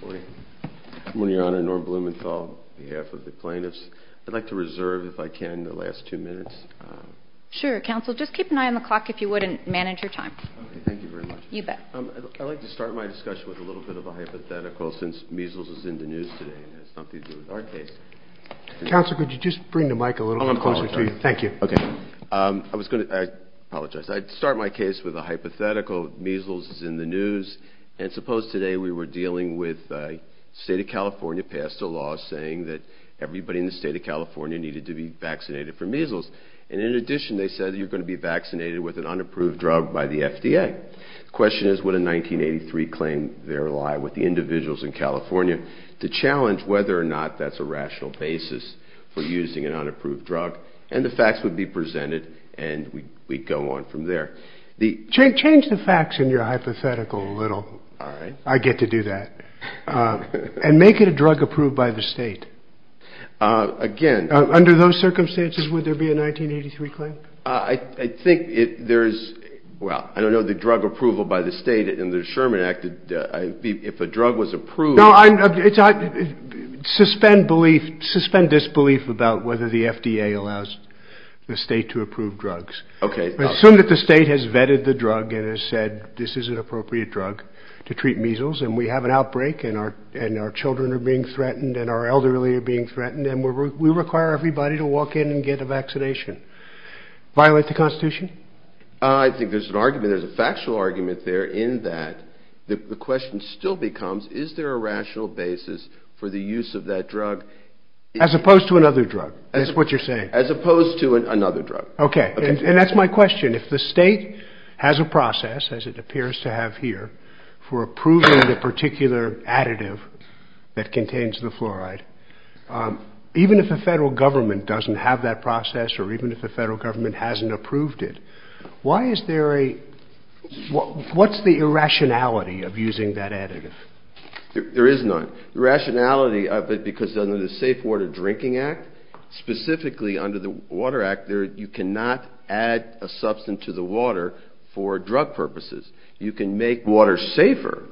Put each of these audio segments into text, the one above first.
Good morning, Your Honor. Norm Blumenthal on behalf of the plaintiffs. I'd like to reserve, if I can, the last two minutes. Sure, Counsel. Just keep an eye on the clock, if you would, and manage your time. Okay, thank you very much. You bet. I'd like to start my discussion with a little bit of a hypothetical, since measles is in the news today and has something to do with our case. Counsel, could you just bring the mic a little closer to you? Oh, I'm sorry. Thank you. Okay. I apologize. I'd start my case with a hypothetical. Measles is in the news. And suppose today we were dealing with the State of California passed a law saying that everybody in the State of California needed to be vaccinated for measles. And in addition, they said you're going to be vaccinated with an unapproved drug by the FDA. The question is, would a 1983 claim there lie with the individuals in California to challenge whether or not that's a rational basis for using an unapproved drug? And the facts would be presented, and we'd go on from there. Change the facts in your hypothetical a little. All right. I get to do that. And make it a drug approved by the State. Again – Under those circumstances, would there be a 1983 claim? I think there is – well, I don't know the drug approval by the State in the Sherman Act. If a drug was approved – Suspend belief – suspend disbelief about whether the FDA allows the State to approve drugs. Okay. Assume that the State has vetted the drug and has said this is an appropriate drug to treat measles, and we have an outbreak and our children are being threatened and our elderly are being threatened, and we require everybody to walk in and get a vaccination. Violate the Constitution? I think there's an argument – there's a factual argument there in that the question still becomes, is there a rational basis for the use of that drug? As opposed to another drug, is what you're saying? As opposed to another drug. Okay. And that's my question. If the State has a process, as it appears to have here, for approving the particular additive that contains the fluoride, even if the federal government doesn't have that process or even if the federal government hasn't approved it, why is there a – what's the irrationality of using that additive? There is none. The rationality of it, because under the Safe Water Drinking Act, specifically under the Water Act, you cannot add a substance to the water for drug purposes. You can make water safer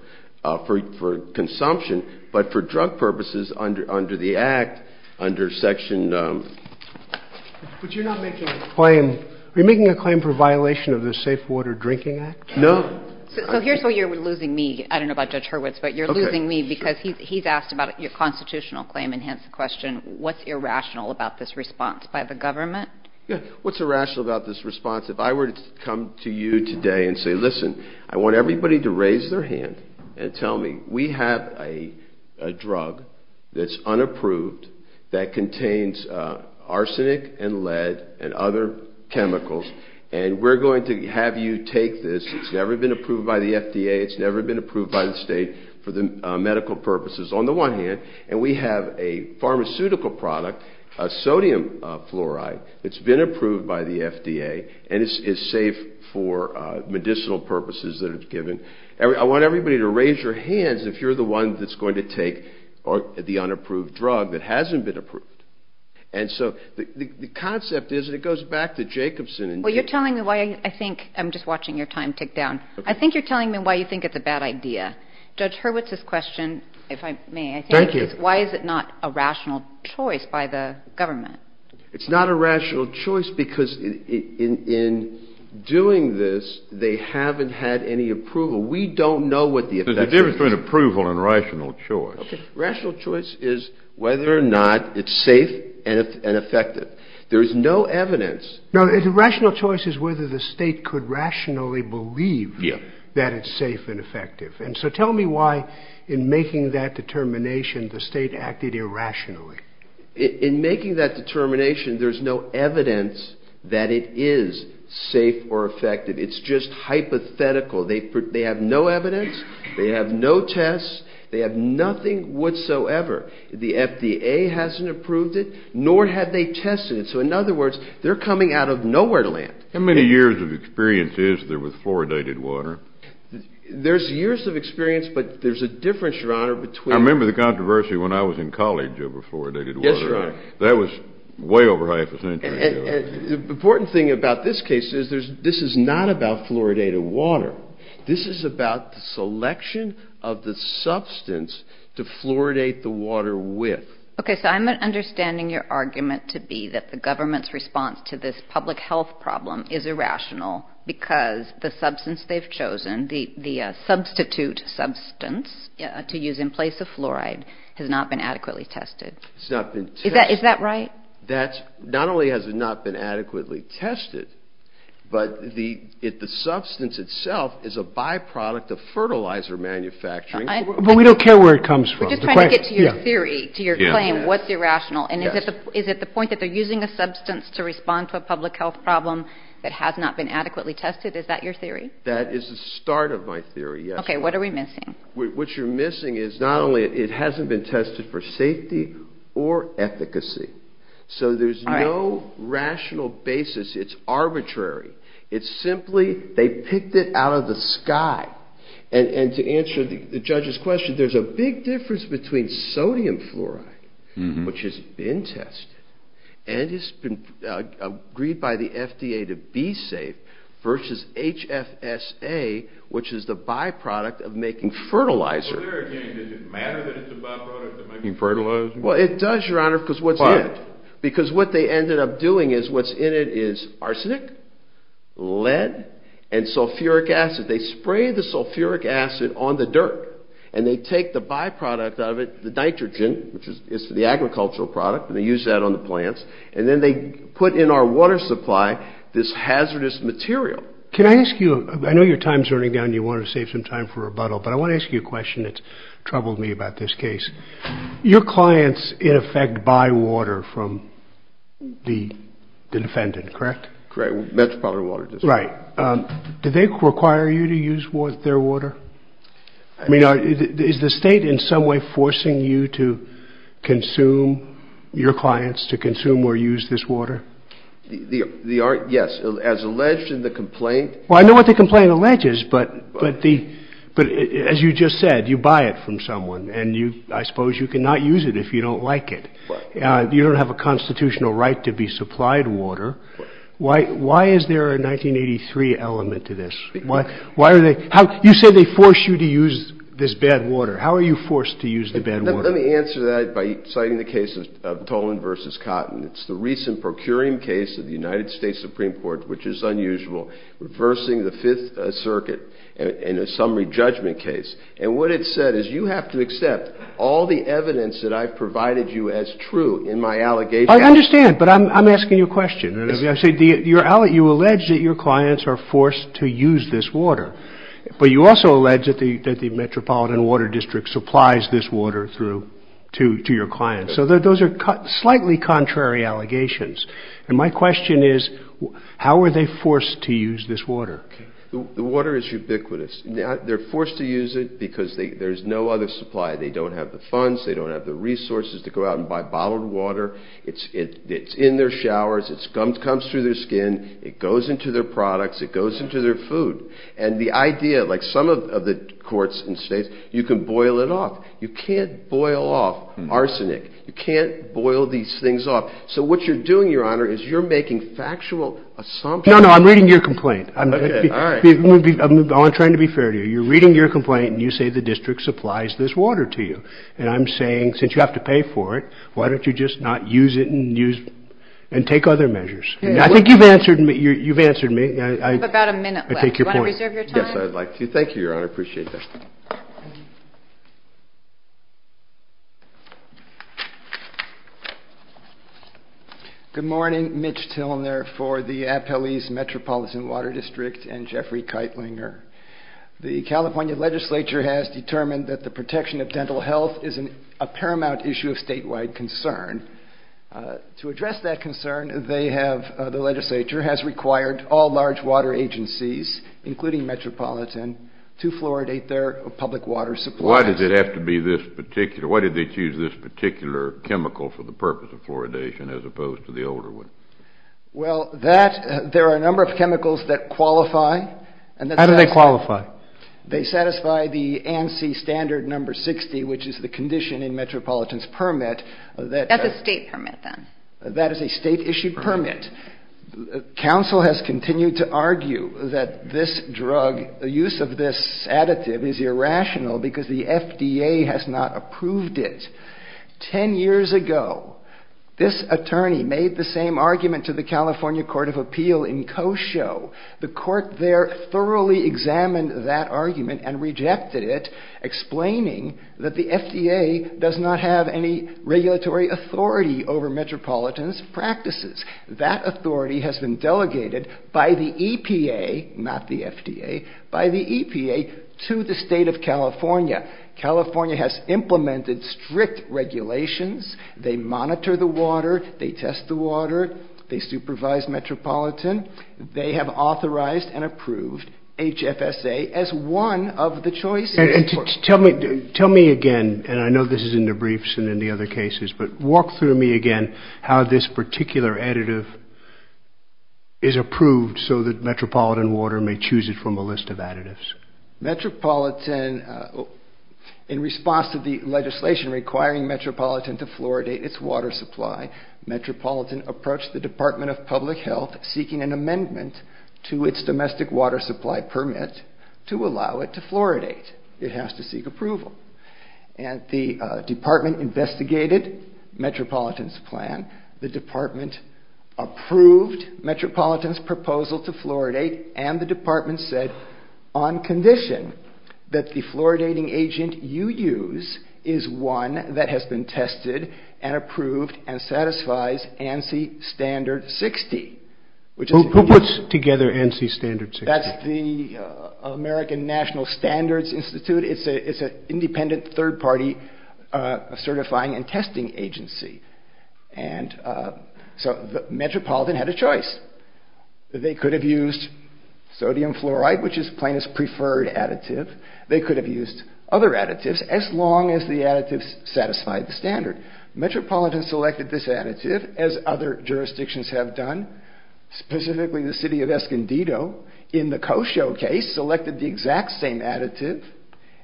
for consumption, but for drug purposes, under the Act, under Section – But you're not making a claim – are you making a claim for violation of the Safe Water Drinking Act? No. So here's where you're losing me. I don't know about Judge Hurwitz, but you're losing me because he's asked about your constitutional claim and has the question, what's irrational about this response by the government? Yeah, what's irrational about this response? If I were to come to you today and say, listen, I want everybody to raise their hand and tell me, we have a drug that's unapproved that contains arsenic and lead and other chemicals, and we're going to have you take this. It's never been approved by the FDA. It's never been approved by the state for medical purposes, on the one hand. And we have a pharmaceutical product, a sodium fluoride, that's been approved by the FDA, and it's safe for medicinal purposes that it's given. I want everybody to raise your hands if you're the one that's going to take the unapproved drug that hasn't been approved. And so the concept is, and it goes back to Jacobson and – Well, you're telling me why I think – I'm just watching your time tick down. I think you're telling me why you think it's a bad idea. Judge Hurwitz's question, if I may – Thank you. Why is it not a rational choice by the government? It's not a rational choice because in doing this, they haven't had any approval. We don't know what the effect is. There's a difference between approval and rational choice. Okay. Rational choice is whether or not it's safe and effective. There is no evidence. No, rational choice is whether the state could rationally believe that it's safe and effective. And so tell me why, in making that determination, the state acted irrationally. In making that determination, there's no evidence that it is safe or effective. It's just hypothetical. They have no evidence. They have no tests. They have nothing whatsoever. The FDA hasn't approved it, nor have they tested it. So, in other words, they're coming out of nowhere to land. How many years of experience is there with fluoridated water? There's years of experience, but there's a difference, Your Honor, between – I remember the controversy when I was in college over fluoridated water. Yes, Your Honor. That was way over half a century ago. The important thing about this case is this is not about fluoridated water. This is about the selection of the substance to fluoridate the water with. Okay, so I'm understanding your argument to be that the government's response to this public health problem is irrational because the substance they've chosen, the substitute substance to use in place of fluoride, has not been adequately tested. It's not been tested. Is that right? Not only has it not been adequately tested, but the substance itself is a byproduct of fertilizer manufacturing. But we don't care where it comes from. We're just trying to get to your theory, to your claim. What's irrational? And is it the point that they're using a substance to respond to a public health problem that has not been adequately tested? Is that your theory? That is the start of my theory, yes. Okay, what are we missing? What you're missing is not only it hasn't been tested for safety or efficacy. So there's no rational basis. It's arbitrary. It's simply they picked it out of the sky. And to answer the judge's question, there's a big difference between sodium fluoride, which has been tested and has been agreed by the FDA to be safe, versus HFSA, which is the byproduct of making fertilizer. So there again, does it matter that it's a byproduct of making fertilizer? Well, it does, Your Honor, because what's in it? Why? Because what they ended up doing is what's in it is arsenic, lead, and sulfuric acid. They spray the sulfuric acid on the dirt, and they take the byproduct of it, the nitrogen, which is the agricultural product, and they use that on the plants, and then they put in our water supply this hazardous material. Can I ask you, I know your time's running down and you want to save some time for rebuttal, but I want to ask you a question that's troubled me about this case. Your clients, in effect, buy water from the defendant, correct? Correct, Metropolitan Water District. Right. Do they require you to use their water? I mean, is the state in some way forcing you to consume, your clients, to consume or use this water? Yes, as alleged in the complaint. Well, I know what the complaint alleges, but as you just said, you buy it from someone, and I suppose you cannot use it if you don't like it. You don't have a constitutional right to be supplied water. Why is there a 1983 element to this? You said they force you to use this bad water. How are you forced to use the bad water? Let me answer that by citing the case of Toland v. Cotton. It's the recent procuring case of the United States Supreme Court, which is unusual, reversing the Fifth Circuit in a summary judgment case, and what it said is you have to accept all the evidence that I've provided you as true in my allegation. I understand, but I'm asking you a question. You allege that your clients are forced to use this water, but you also allege that the Metropolitan Water District supplies this water to your clients. So those are slightly contrary allegations. And my question is, how are they forced to use this water? The water is ubiquitous. They're forced to use it because there's no other supply. They don't have the funds. They don't have the resources to go out and buy bottled water. It's in their showers. It comes through their skin. It goes into their products. It goes into their food. And the idea, like some of the courts in the States, you can boil it off. You can't boil off arsenic. You can't boil these things off. So what you're doing, Your Honor, is you're making factual assumptions. No, no, I'm reading your complaint. I'm trying to be fair to you. You're reading your complaint, and you say the district supplies this water to you. And I'm saying, since you have to pay for it, why don't you just not use it and take other measures? I think you've answered me. You have about a minute left. Do you want to reserve your time? Yes, I'd like to. Thank you, Your Honor. I appreciate that. Good morning. Mitch Tilner for the Appellee's Metropolitan Water District and Jeffrey Keitlinger. The California legislature has determined that the protection of dental health is a paramount issue of statewide concern. To address that concern, they have, the legislature, has required all large water agencies, including Metropolitan, to fluoridate their public water supplies. Why does it have to be this particular, why did they choose this particular chemical for the purpose of fluoridation as opposed to the older one? Well, that, there are a number of chemicals that qualify. How do they qualify? They satisfy the ANSI standard number 60, which is the condition in Metropolitan's permit. That's a state permit, then? That is a state-issued permit. Counsel has continued to argue that this drug, the use of this additive is irrational because the FDA has not approved it. Ten years ago, this attorney made the same argument to the California Court of Appeal in Kosho. The court there thoroughly examined that argument and rejected it, explaining that the FDA does not have any regulatory authority over Metropolitan's practices. That authority has been delegated by the EPA, not the FDA, by the EPA to the state of California. California has implemented strict regulations. They monitor the water. They test the water. They supervise Metropolitan. They have authorized and approved HFSA as one of the choices. Tell me again, and I know this is in the briefs and in the other cases, but walk through me again how this particular additive is approved so that Metropolitan Water may choose it from a list of additives. Metropolitan, in response to the legislation requiring Metropolitan to fluoridate its water supply, Metropolitan approached the Department of Public Health seeking an amendment to its domestic water supply permit to allow it to fluoridate. It has to seek approval. And the department investigated Metropolitan's plan. The department approved Metropolitan's proposal to fluoridate, and the department said, on condition that the fluoridating agent you use is one that has been tested and approved and satisfies ANSI Standard 60. Who puts together ANSI Standard 60? That's the American National Standards Institute. It's an independent third-party certifying and testing agency. And so Metropolitan had a choice. They could have used sodium fluoride, which is Plaintiff's preferred additive. They could have used other additives, as long as the additives satisfied the standard. Metropolitan selected this additive, as other jurisdictions have done, specifically the city of Escondido in the Kosho case selected the exact same additive,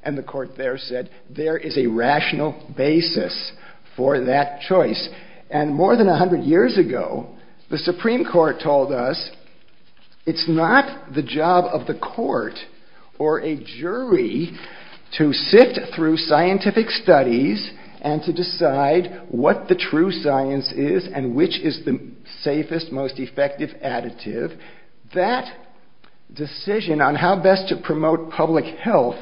and the court there said, there is a rational basis for that choice. And more than 100 years ago, the Supreme Court told us it's not the job of the court or a jury to sit through scientific studies and to decide what the true science is and which is the safest, most effective additive. That decision on how best to promote public health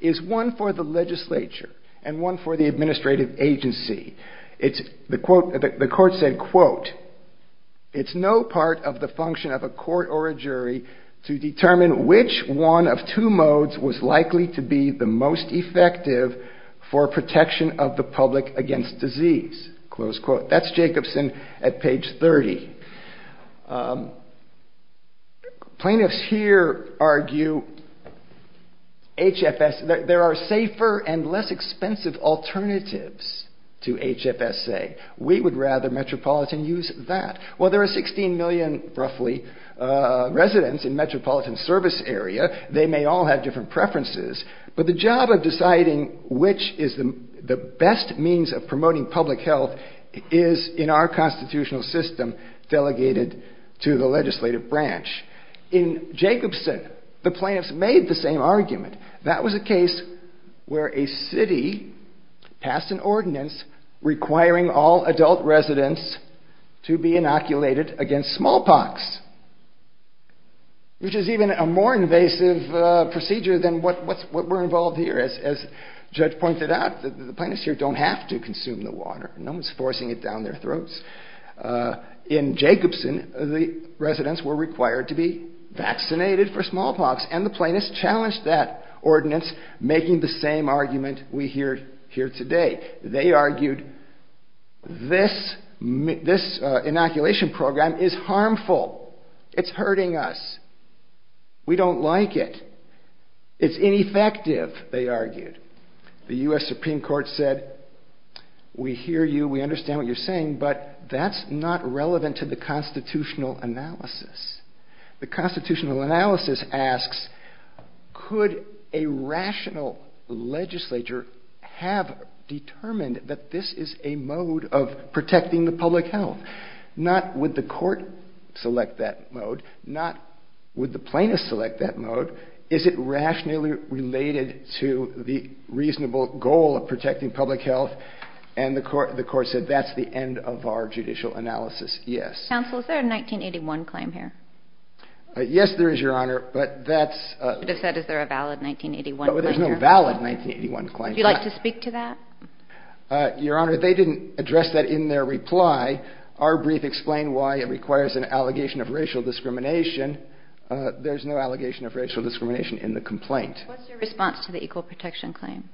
is one for the legislature and one for the administrative agency. The court said, it's no part of the function of a court or a jury to determine which one of two modes was likely to be the most effective for protection of the public against disease. That's Jacobson at page 30. Plaintiffs here argue there are safer and less expensive alternatives to HFSA. We would rather metropolitan use that. Well, there are 16 million, roughly, residents in metropolitan service area. They may all have different preferences, but the job of deciding which is the best means of promoting public health is in our constitutional system delegated to the legislative branch. In Jacobson, the plaintiffs made the same argument. That was a case where a city passed an ordinance requiring all adult residents to be inoculated against smallpox, which is even a more invasive procedure than what we're involved here. As Judge pointed out, the plaintiffs here don't have to consume the water. No one's forcing it down their throats. In Jacobson, the residents were required to be vaccinated for smallpox, and the plaintiffs challenged that ordinance, making the same argument we hear here today. They argued this inoculation program is harmful. It's hurting us. We don't like it. It's ineffective, they argued. The U.S. Supreme Court said, we hear you, we understand what you're saying, but that's not relevant to the constitutional analysis. The constitutional analysis asks, could a rational legislature have determined that this is a mode of protecting the public health? Not would the court select that mode, not would the plaintiffs select that mode. Is it rationally related to the reasonable goal of protecting public health? And the court said, that's the end of our judicial analysis, yes. Counsel, is there a 1981 claim here? Yes, there is, Your Honor, but that's... You should have said, is there a valid 1981 claim here? But there's no valid 1981 claim. Would you like to speak to that? Your Honor, they didn't address that in their reply. Our brief explained why it requires an allegation of racial discrimination. There's no allegation of racial discrimination in the complaint. What's your response to the equal protection claim?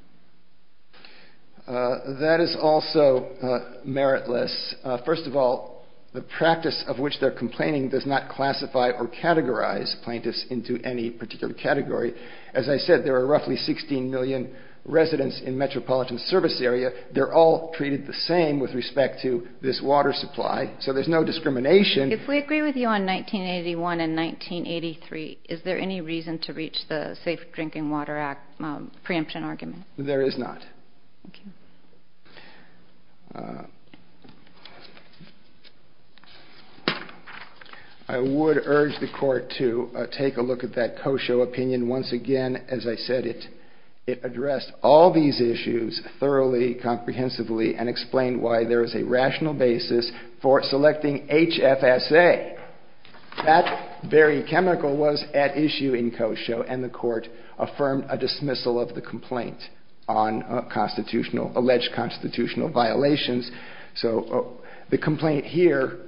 That is also meritless. First of all, the practice of which they're complaining does not classify or categorize plaintiffs into any particular category. As I said, there are roughly 16 million residents in metropolitan service area. They're all treated the same with respect to this water supply, so there's no discrimination. If we agree with you on 1981 and 1983, is there any reason to reach the Safe Drinking Water Act preemption argument? There is not. Thank you. I would urge the Court to take a look at that Kosho opinion. Once again, as I said, it addressed all these issues thoroughly, comprehensively, and explained why there is a rational basis for selecting HFSA. That very chemical was at issue in Kosho, and the Court affirmed a dismissal of the complaint on alleged constitutional violations. So the complaint here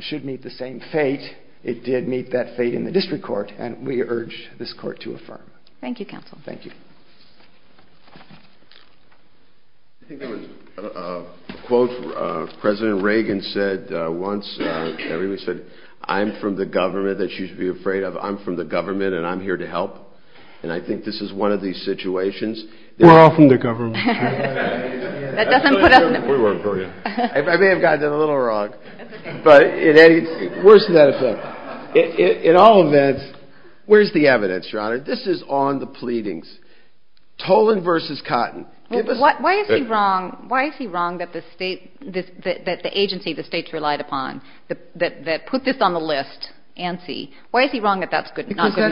should meet the same fate. It did meet that fate in the District Court, and we urge this Court to affirm. Thank you, Counsel. Thank you. I think there was a quote President Reagan said once. Everybody said, I'm from the government that you should be afraid of. I'm from the government, and I'm here to help. And I think this is one of these situations. We're all from the government. We work for you. I may have gotten it a little wrong. But worse than that, in all events, where's the evidence, Your Honor? This is on the pleadings. Toland v. Cotton. Why is he wrong that the agency the states relied upon, that put this on the list, ANSI, why is he wrong that that's not good enough? Because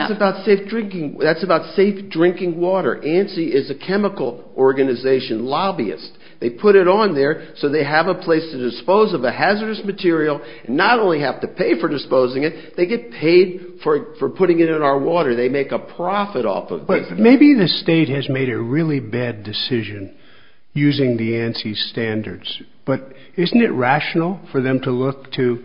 that's about safe drinking water. ANSI is a chemical organization, lobbyist. They put it on there so they have a place to dispose of a hazardous material and not only have to pay for disposing it, they get paid for putting it in our water. They make a profit off of this. But maybe the state has made a really bad decision using the ANSI standards. But isn't it rational for them to look to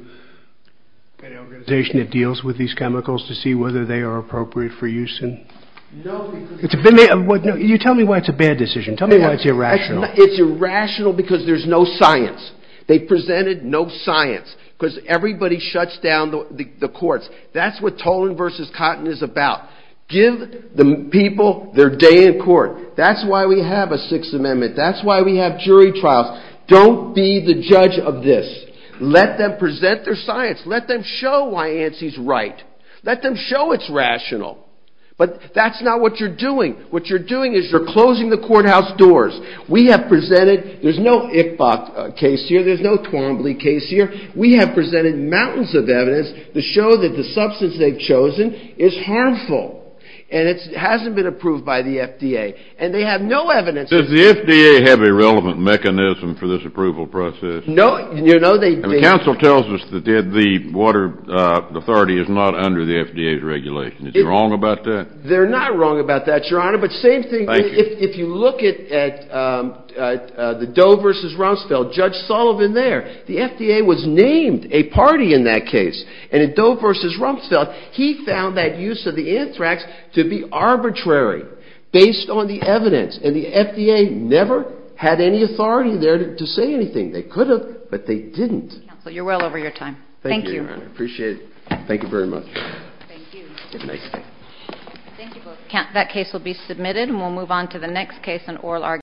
any organization that deals with these chemicals to see whether they are appropriate for use? You tell me why it's a bad decision. Tell me why it's irrational. It's irrational because there's no science. They presented no science. Because everybody shuts down the courts. That's what Toland v. Cotton is about. Give the people their day in court. That's why we have a Sixth Amendment. That's why we have jury trials. Don't be the judge of this. Let them show why ANSI is right. Let them show it's rational. But that's not what you're doing. What you're doing is you're closing the courthouse doors. We have presented. There's no Ichbach case here. There's no Twombly case here. We have presented mountains of evidence to show that the substance they've chosen is harmful. And it hasn't been approved by the FDA. And they have no evidence. Does the FDA have a relevant mechanism for this approval process? No, they don't. The council tells us that the water authority is not under the FDA's regulation. Is it wrong about that? They're not wrong about that, Your Honor. But same thing if you look at the Doe v. Rumsfeld, Judge Sullivan there, the FDA was named a party in that case. And in Doe v. Rumsfeld, he found that use of the anthrax to be arbitrary based on the evidence. And the FDA never had any authority there to say anything. They could have, but they didn't. Counsel, you're well over your time. Thank you. Thank you, Your Honor. I appreciate it. Thank you very much. Thank you. Good night. Thank you both. That case will be submitted, and we'll move on to the next case in oral argument.